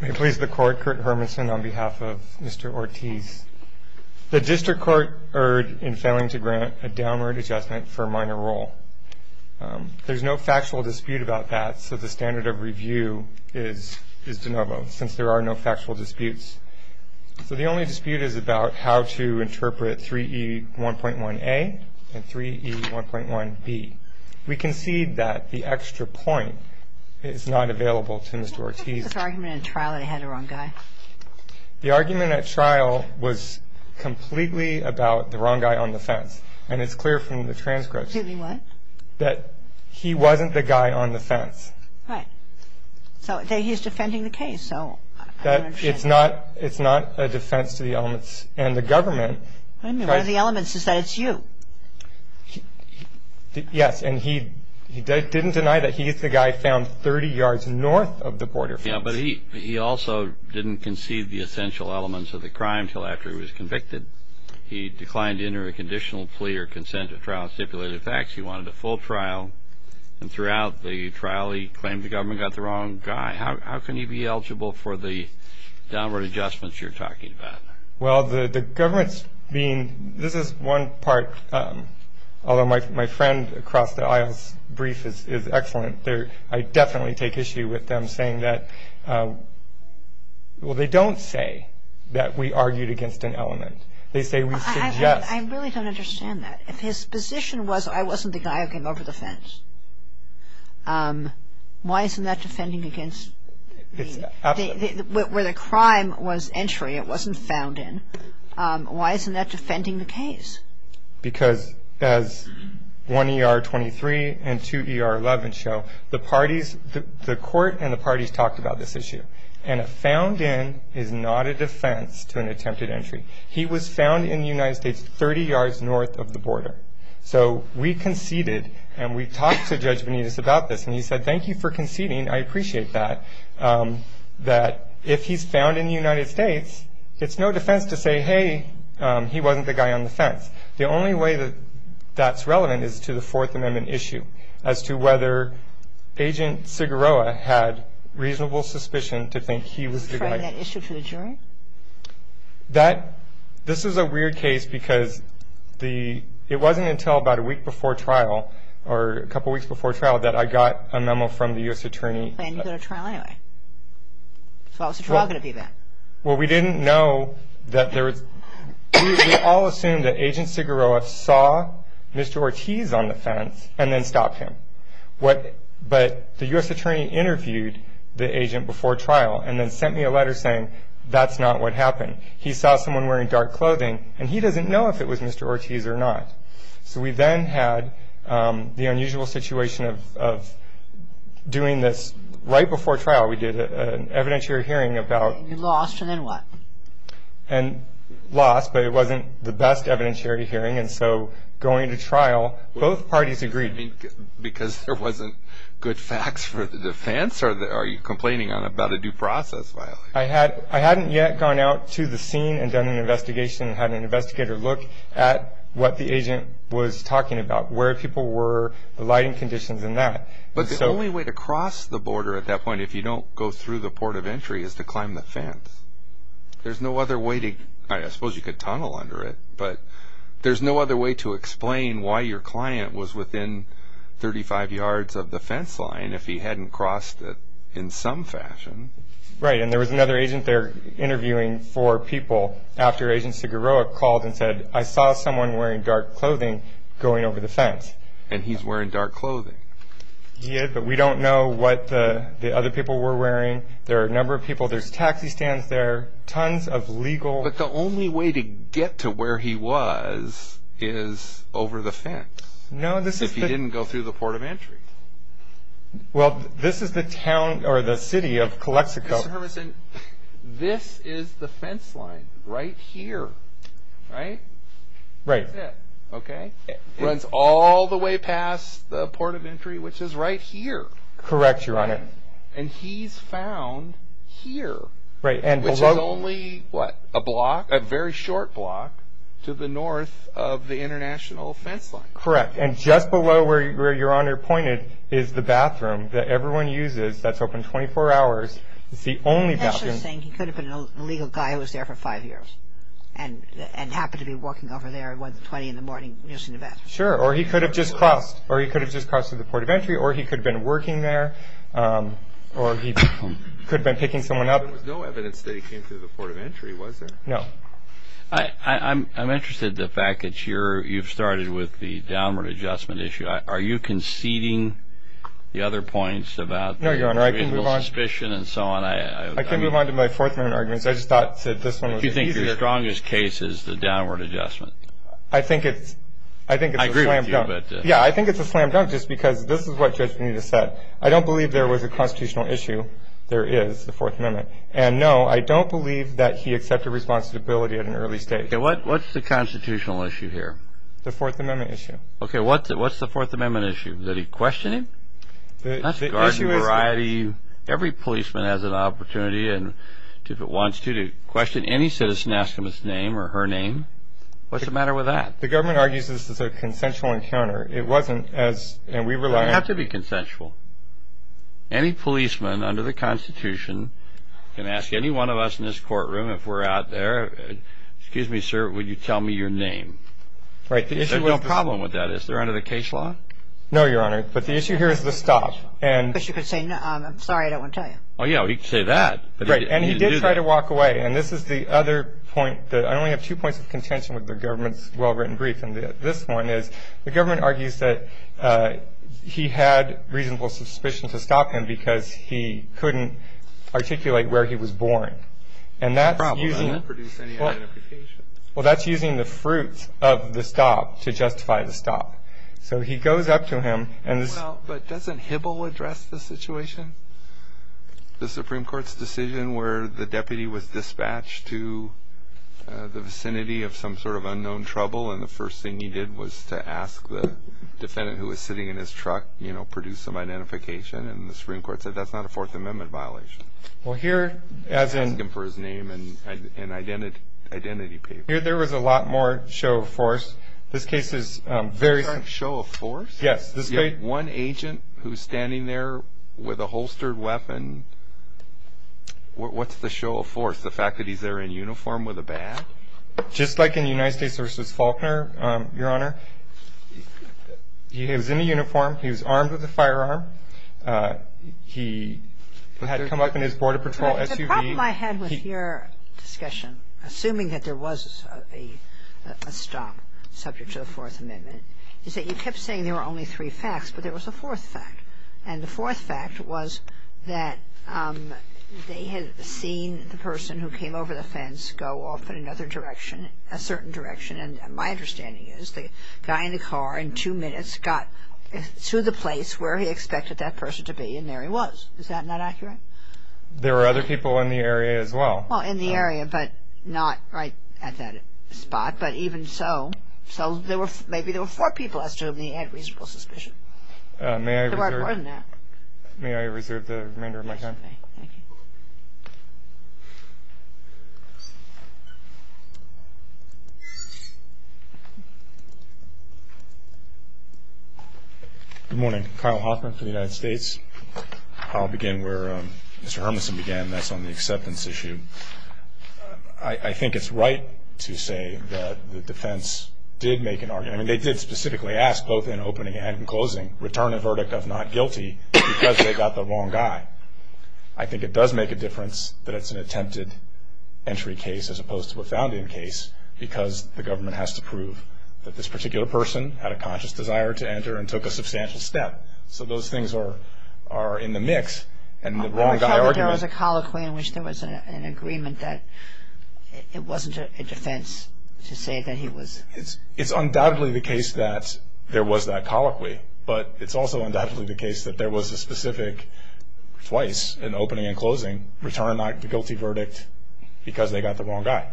The District Court erred in failing to grant a downward adjustment for minor role. There's no factual dispute about that, so the standard of review is de novo, since there are no factual disputes. So the only dispute is about how to interpret 3E1.1A and 3E1.1B. We concede that the extra point is not available to Mr. Ortiz. The argument at trial was completely about the wrong guy on the fence, and it's clear from the transcripts that he wasn't the guy on the fence. He's not a defense to the elements and the government. What are the elements is that it's you. Yes, and he didn't deny that he is the guy found 30 yards north of the border fence. But he also didn't concede the essential elements of the crime until after he was convicted. He declined to enter a conditional plea or consent to trial stipulated facts. He wanted a full trial, and throughout the trial he claimed the government got the wrong guy. How can he be eligible for the downward adjustments you're talking about? Well, the government's being, this is one part, although my friend across the aisle's brief is excellent. I definitely take issue with them saying that, well, they don't say that we argued against an element. They say we suggest. I really don't understand that. If his position was I wasn't the guy who came over the fence, why isn't that defending against the, where the crime was entry, it wasn't found in, why isn't that defending the case? Because as 1ER23 and 2ER11 show, the parties, the court and the parties talked about this issue. And a found in is not a defense to an attempted entry. He was found in the United States 30 yards north of the border. So we conceded, and we talked to Judge Benitez about this, and he said thank you for conceding. I appreciate that. That if he's found in the United States, it's no defense to say, hey, he wasn't the guy on the fence. The only way that that's relevant is to the Fourth Amendment issue as to whether Agent Sigueroa had reasonable suspicion to think he was the guy. Were you referring that issue to the jury? That, this is a weird case because the, it wasn't until about a week before trial, or a couple weeks before trial, that I got a memo from the U.S. Attorney. You didn't go to trial anyway. So how was the trial going to do that? Well, we didn't know that there was, we all assumed that Agent Sigueroa saw Mr. Ortiz on the fence and then stopped him. But the U.S. Attorney interviewed the agent before trial and then sent me a letter saying that's not what happened. He saw someone wearing dark clothing, and he doesn't know if it was Mr. Ortiz or not. So we then had the unusual situation of doing this right before trial. We did an evidentiary hearing about... And you lost, and then what? And lost, but it wasn't the best evidentiary hearing. And so going to trial, both parties agreed. Because there wasn't good facts for the defense, or are you complaining about a due process violation? I hadn't yet gone out to the scene and done an investigation, had an investigator look at what the agent was talking about, where people were, the lighting conditions and that. But the only way to cross the border at that point, if you don't go through the port of entry, is to climb the fence. There's no other way to, I suppose you could tunnel under it, but there's no other way to explain why your client was within 35 yards of the fence line if he hadn't crossed it in some fashion. Right, and there was another agent there interviewing four people after Agent Siguroa called and said, I saw someone wearing dark clothing going over the fence. And he's wearing dark clothing. He is, but we don't know what the other people were wearing. There are a number of people, there's taxi stands there, tons of legal... But the only way to get to where he was is over the fence. No, this is the... If he didn't go through the port of entry. Well, this is the town or the city of Calexico. Mr. Hermanson, this is the fence line right here, right? Right. That's it, okay? It runs all the way past the port of entry, which is right here. Correct, Your Honor. And he's found here... Right, and below... Which is only, what, a block, a very short block to the north of the international fence line. Correct, and just below where Your Honor pointed is the bathroom that everyone uses. That's open 24 hours. It's the only bathroom. That's just saying he could have been a legal guy who was there for five years and happened to be walking over there at 1.20 in the morning using the bathroom. Sure, or he could have just crossed, or he could have just crossed through the port of entry, or he could have been working there, or he could have been picking someone up. There was no evidence that he came through the port of entry, was there? No. I'm interested in the fact that you've started with the downward adjustment issue. Are you conceding the other points about the reasonable suspicion and so on? No, Your Honor, I can move on. I can move on to my Fourth Amendment arguments. I just thought, Sid, this one was easier. Do you think your strongest case is the downward adjustment? I think it's a slam dunk. I agree with you, but... Yeah, I think it's a slam dunk just because this is what Judge Bonita said. I don't believe there was a constitutional issue. There is, the Fourth Amendment. And, no, I don't believe that he accepted responsibility at an early stage. Okay, what's the constitutional issue here? The Fourth Amendment issue. Okay, what's the Fourth Amendment issue? Is it questioning? That's a garden variety. Every policeman has an opportunity, if it wants to, to question any citizen, ask them his name or her name. What's the matter with that? The government argues this is a consensual encounter. It wasn't, and we rely on... It doesn't have to be consensual. Any policeman under the Constitution can ask any one of us in this courtroom, if we're out there, excuse me, sir, would you tell me your name? There's no problem with that. Is there under the case law? No, Your Honor, but the issue here is the stop. But you could say, I'm sorry, I don't want to tell you. Oh, yeah, well, he could say that. And he did try to walk away, and this is the other point... I only have two points of contention with the government's well-written brief, and this one is the government argues that he had reasonable suspicion to stop him because he couldn't articulate where he was born. No problem. That doesn't produce any identification. Well, that's using the fruit of the stop to justify the stop. So he goes up to him... Well, but doesn't Hibble address the situation? The Supreme Court's decision where the deputy was dispatched to the vicinity of some sort of unknown trouble, and the first thing he did was to ask the defendant who was sitting in his truck, you know, produce some identification, and the Supreme Court said that's not a Fourth Amendment violation. Well, here, as in... Ask him for his name and identity papers. Here there was a lot more show of force. This case is very... Show of force? Yes. One agent who's standing there with a holstered weapon, what's the show of force? The fact that he's there in uniform with a bat? Just like in the United States v. Faulkner, Your Honor, he was in a uniform. He was armed with a firearm. He had come up in his Border Patrol SUV. The problem I had with your discussion, assuming that there was a stop subject to the Fourth Amendment, is that you kept saying there were only three facts, but there was a fourth fact. And the fourth fact was that they had seen the person who came over the fence go off in another direction, a certain direction, and my understanding is the guy in the car in two minutes got to the place where he expected that person to be, and there he was. Is that not accurate? There were other people in the area as well. Well, in the area, but not right at that spot, but even so, so maybe there were four people as to whom he had reasonable suspicion. May I reserve the remainder of my time? Thank you. Good morning. Kyle Hoffman for the United States. I'll begin where Mr. Hermison began, and that's on the acceptance issue. I think it's right to say that the defense did make an argument, I mean, they did specifically ask, both in opening and in closing, return a verdict of not guilty because they got the wrong guy. I think it does make a difference that it's an attempted entry case as opposed to a found-in case because the government has to prove that this particular person had a conscious desire to enter and took a substantial step. So those things are in the mix, and the wrong guy argument – I thought that there was a colloquy in which there was an agreement that it wasn't a defense to say that he was – it's undoubtedly the case that there was that colloquy, but it's also undoubtedly the case that there was a specific, twice in opening and closing, return not guilty verdict because they got the wrong guy.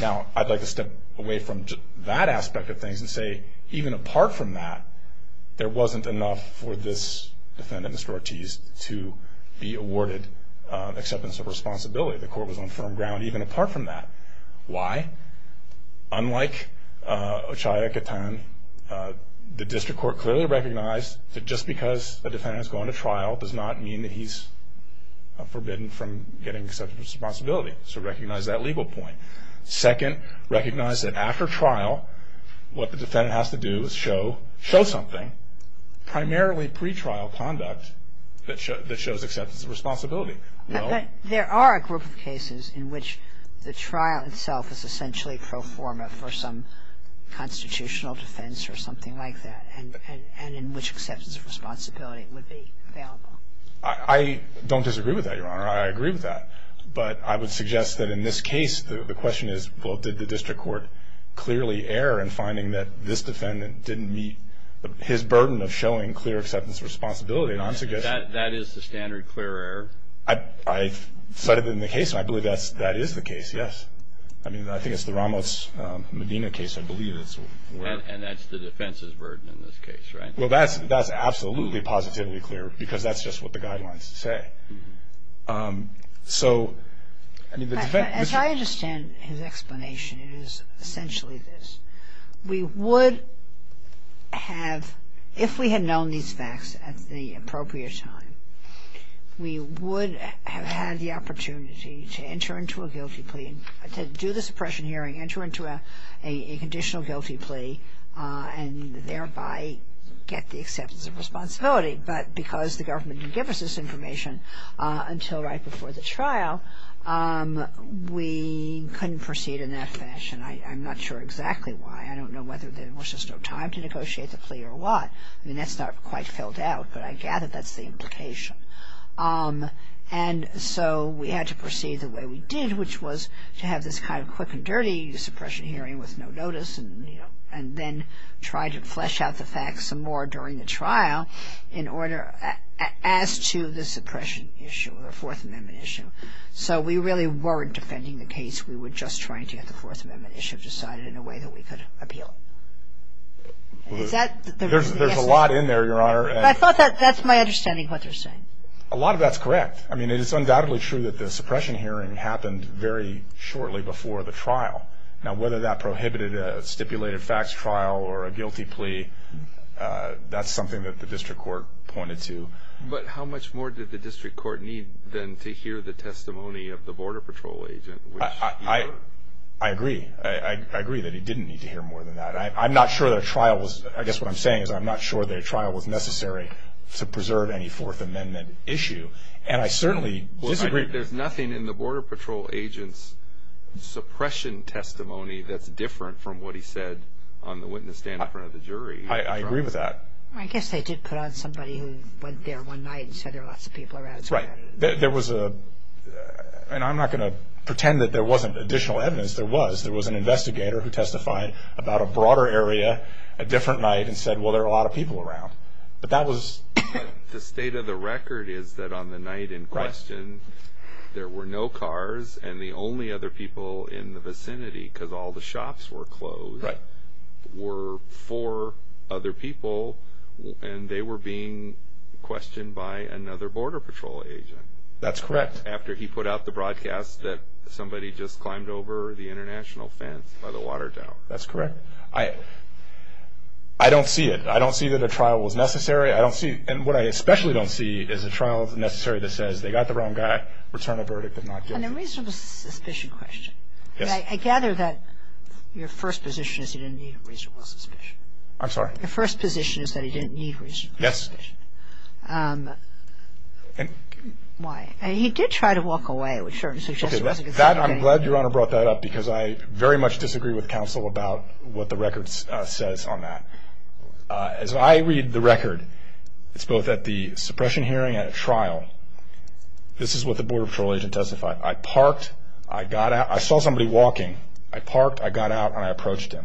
Now, I'd like to step away from that aspect of things and say even apart from that, there wasn't enough for this defendant, Mr. Ortiz, to be awarded acceptance of responsibility. The court was on firm ground even apart from that. Why? Unlike Ochiai-Katan, the district court clearly recognized that just because a defendant is going to trial does not mean that he's forbidden from getting acceptance of responsibility, so recognize that legal point. Second, recognize that after trial, what the defendant has to do is show something, primarily pretrial conduct, that shows acceptance of responsibility. But there are a group of cases in which the trial itself is essentially pro forma for some constitutional defense or something like that and in which acceptance of responsibility would be available. I don't disagree with that, Your Honor. I agree with that, but I would suggest that in this case, the question is, well, did the district court clearly err in finding that this defendant didn't meet his burden of showing clear acceptance of responsibility? That is the standard clear error? I cited it in the case, and I believe that is the case, yes. I mean, I think it's the Ramos-Medina case, I believe. And that's the defense's burden in this case, right? Well, that's absolutely positively clear because that's just what the guidelines say. So, I mean, the defense... As I understand his explanation, it is essentially this. We would have, if we had known these facts at the appropriate time, we would have had the opportunity to enter into a guilty plea, to do the suppression hearing, enter into a conditional guilty plea and thereby get the acceptance of responsibility. But because the government didn't give us this information until right before the trial, we couldn't proceed in that fashion. I'm not sure exactly why. I don't know whether there was just no time to negotiate the plea or what. I mean, that's not quite filled out, but I gather that's the implication. And so we had to proceed the way we did, which was to have this kind of quick and dirty suppression hearing with no notice and then try to flesh out the facts some more during the trial in order as to the suppression issue, the Fourth Amendment issue. So we really weren't defending the case. We were just trying to get the Fourth Amendment issue decided in a way that we could appeal. Is that the reason? There's a lot in there, Your Honor. But I thought that's my understanding of what they're saying. A lot of that's correct. I mean, it is undoubtedly true that the suppression hearing happened very shortly before the trial. Now, whether that prohibited a stipulated facts trial or a guilty plea, that's something that the district court pointed to. But how much more did the district court need than to hear the testimony of the Border Patrol agent? I agree. I agree that he didn't need to hear more than that. I'm not sure that a trial was – I guess what I'm saying is I'm not sure that a trial was necessary to preserve any Fourth Amendment issue. And I certainly disagree. There's nothing in the Border Patrol agent's suppression testimony that's different from what he said on the witness stand in front of the jury. I agree with that. I guess they did put on somebody who went there one night and said there were lots of people around. Right. There was a – and I'm not going to pretend that there wasn't additional evidence. There was. There was an investigator who testified about a broader area a different night and said, well, there were a lot of people around. But that was – The state of the record is that on the night in question, there were no cars and the only other people in the vicinity, because all the shops were closed, were four other people, and they were being questioned by another Border Patrol agent. That's correct. After he put out the broadcast that somebody just climbed over the international fence by the water tower. That's correct. I don't see it. I don't see that a trial was necessary. I don't see – and what I especially don't see is a trial that's necessary that says they got the wrong guy, returned a verdict, but not guilty. And the reason for the suspicion question, I gather that your first position is he didn't need reasonable suspicion. I'm sorry? Your first position is that he didn't need reasonable suspicion. Yes. Why? He did try to walk away with certain suggestions. That, I'm glad Your Honor brought that up, because I very much disagree with counsel about what the record says on that. As I read the record, it's both at the suppression hearing and at trial, this is what the Border Patrol agent testified. I parked. I got out. I saw somebody walking. I parked. I got out, and I approached him.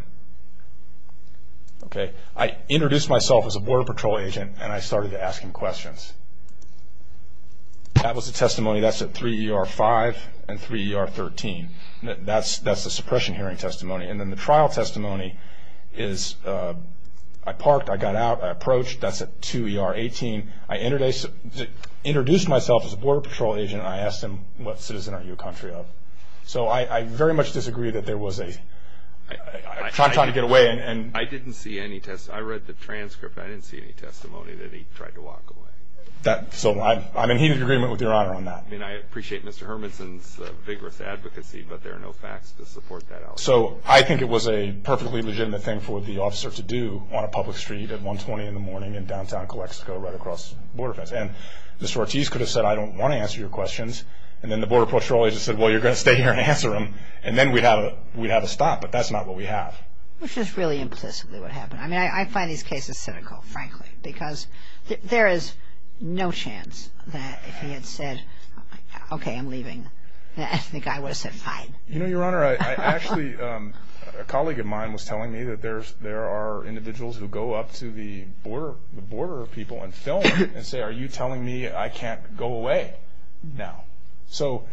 I introduced myself as a Border Patrol agent, and I started to ask him questions. That was the testimony. That's at 3 ER 5 and 3 ER 13. That's the suppression hearing testimony. And then the trial testimony is I parked, I got out, I approached. That's at 2 ER 18. I introduced myself as a Border Patrol agent, and I asked him, what citizen are you a country of? So I very much disagree that there was a time trying to get away. I didn't see any testimony. I read the transcript. I didn't see any testimony that he tried to walk away. So I'm in heated agreement with Your Honor on that. I appreciate Mr. Hermanson's vigorous advocacy, but there are no facts to support that out. So I think it was a perfectly legitimate thing for the officer to do on a public street at 120 in the morning in downtown Calexico right across the border fence. And Mr. Ortiz could have said, I don't want to answer your questions, and then the Border Patrol agent said, well, you're going to stay here and answer them, and then we'd have a stop, but that's not what we have. Which is really implicitly what happened. I mean, I find these cases cynical, frankly, because there is no chance that if he had said, okay, I'm leaving, I think I would have said fine. You know, Your Honor, I actually – there are individuals who go up to the border people and film them and say, are you telling me I can't go away now? So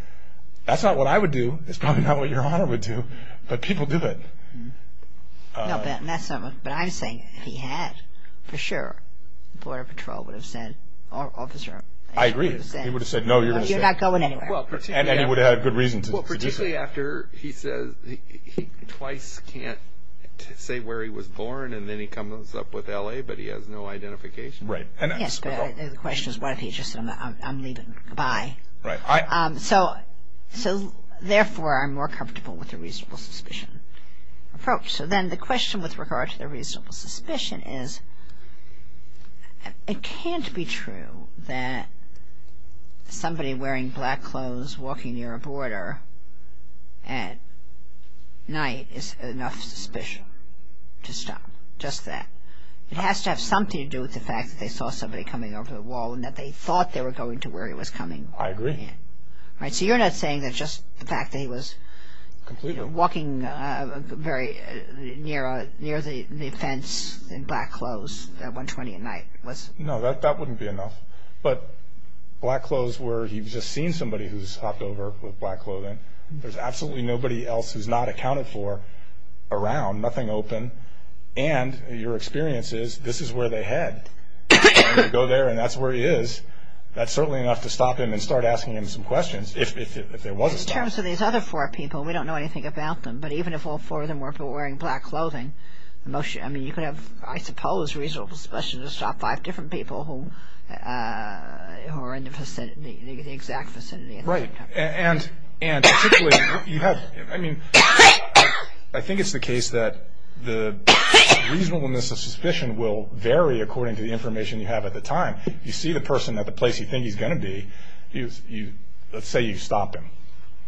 that's not what I would do. It's probably not what Your Honor would do. But people do it. No, but I'm saying he had for sure, the Border Patrol would have said, or officer. I agree. He would have said, no, you're going to stay. You're not going anywhere. And he would have had good reason to. Particularly after he says he twice can't say where he was born, and then he comes up with L.A., but he has no identification. Right. Yes, but the question is what if he just said, I'm leaving, goodbye. Right. So, therefore, I'm more comfortable with the reasonable suspicion approach. So then the question with regard to the reasonable suspicion is, it can't be true that somebody wearing black clothes walking near a border at night is enough suspicion to stop. Just that. It has to have something to do with the fact that they saw somebody coming over the wall and that they thought they were going to where he was coming. I agree. Right, so you're not saying that just the fact that he was – Completely. Walking very near the fence in black clothes at 120 at night was – No, that wouldn't be enough. But black clothes where he's just seen somebody who's hopped over with black clothing. There's absolutely nobody else who's not accounted for around, nothing open. And your experience is this is where they head. They go there and that's where he is. That's certainly enough to stop him and start asking him some questions if there was a stop. In terms of these other four people, we don't know anything about them, but even if all four of them were wearing black clothing, you could have, I suppose, reasonable suspicion to stop five different people who are in the vicinity, the exact vicinity. Right. And I think it's the case that the reasonableness of suspicion will vary according to the information you have at the time. You see the person at the place you think he's going to be. Let's say you stop him.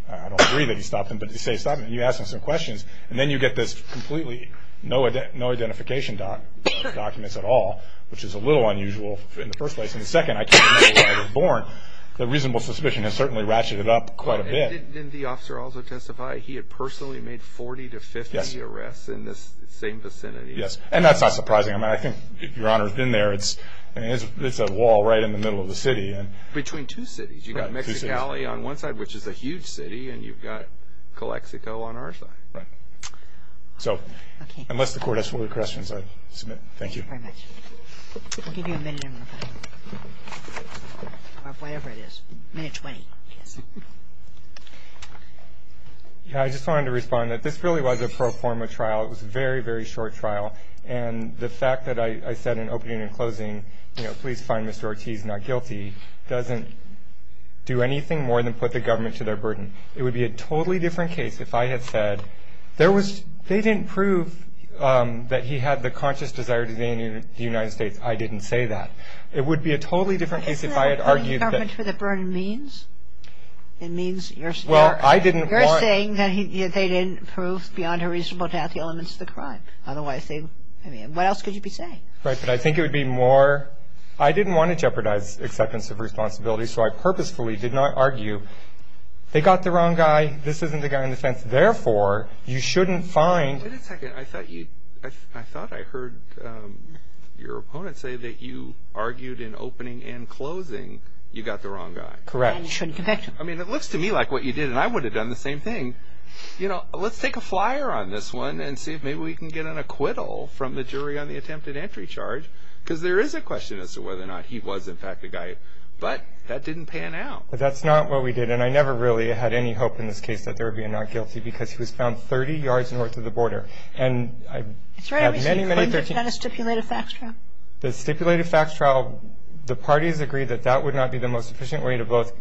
I don't agree that you stop him, but you say stop him. You ask him some questions, and then you get this completely no identification documents at all, which is a little unusual in the first place. In the second, I can't remember where they were born. The reasonable suspicion has certainly ratcheted up quite a bit. Didn't the officer also testify he had personally made 40 to 50 arrests in the same vicinity? Yes. And that's not surprising. I mean, I think if Your Honor's been there, it's a wall right in the middle of the city. Between two cities. You've got Mexicali on one side, which is a huge city, and you've got Calexico on our side. Right. So unless the Court has further questions, I submit. Thank you. Thank you very much. I'll give you a minute. Or whatever it is. Minute 20, I guess. I just wanted to respond that this really was a pro forma trial. It was a very, very short trial. And the fact that I said in opening and closing, you know, please find Mr. Ortiz not guilty, doesn't do anything more than put the government to their burden. It would be a totally different case if I had said there was they didn't prove that he had the conscious desire to be in the United States. I didn't say that. It would be a totally different case if I had argued that. Isn't that what putting the government to their burden means? It means you're saying that they didn't prove beyond a reasonable doubt the elements of the crime. I don't want to say, I mean, what else could you be saying? Right. But I think it would be more, I didn't want to jeopardize acceptance of responsibility, so I purposefully did not argue they got the wrong guy, this isn't the guy on the fence. Therefore, you shouldn't find. Wait a second. I thought I heard your opponent say that you argued in opening and closing you got the wrong guy. Correct. And you shouldn't connect them. I mean, it looks to me like what you did, and I would have done the same thing. Let's take a flyer on this one and see if maybe we can get an acquittal from the jury on the attempted entry charge, because there is a question as to whether or not he was, in fact, the guy. But that didn't pan out. That's not what we did, and I never really had any hope in this case that there would be a not guilty, because he was found 30 yards north of the border. That's right, but you claimed you had a stipulated facts trial. The stipulated facts trial, the parties agreed that that would not be the most efficient way to both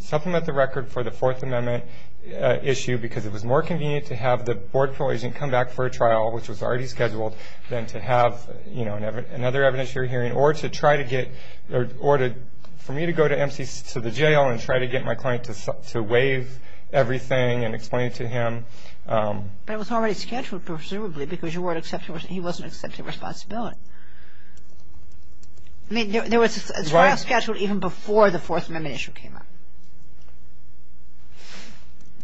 supplement the record for the Fourth Amendment issue, because it was more convenient to have the board appellate agent come back for a trial, which was already scheduled, than to have another evidence you're hearing, or for me to go to the jail and try to get my client to waive everything and explain it to him. But it was already scheduled, presumably, because he wasn't accepting responsibility. I mean, there was a trial scheduled even before the Fourth Amendment issue came up.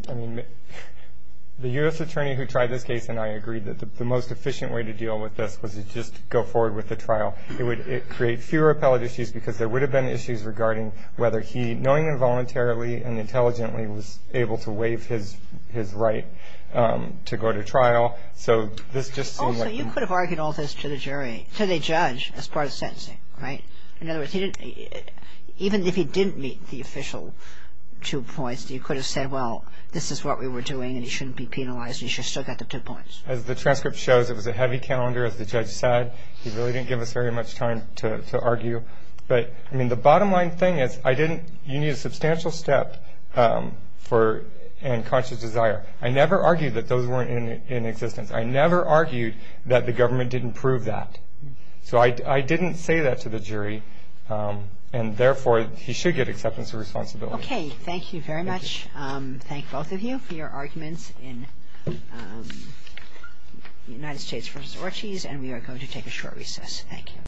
I mean, the U.S. attorney who tried this case and I agreed that the most efficient way to deal with this was to just go forward with the trial. It would create fewer appellate issues, because there would have been issues regarding whether he, knowing involuntarily and intelligently, was able to waive his right to go to trial. Also, you could have argued all this to the jury, to the judge, as part of sentencing, right? In other words, even if he didn't meet the official two points, you could have said, well, this is what we were doing, and he shouldn't be penalized, and he should have still got the two points. As the transcript shows, it was a heavy calendar, as the judge said. He really didn't give us very much time to argue. But, I mean, the bottom line thing is, you need a substantial step and conscious desire. I never argued that those weren't in existence. I never argued that the government didn't prove that. So I didn't say that to the jury, and, therefore, he should get acceptance of responsibility. Okay. Thank you very much. Thank both of you for your arguments in the United States v. Ortiz, and we are going to take a short recess. Thank you.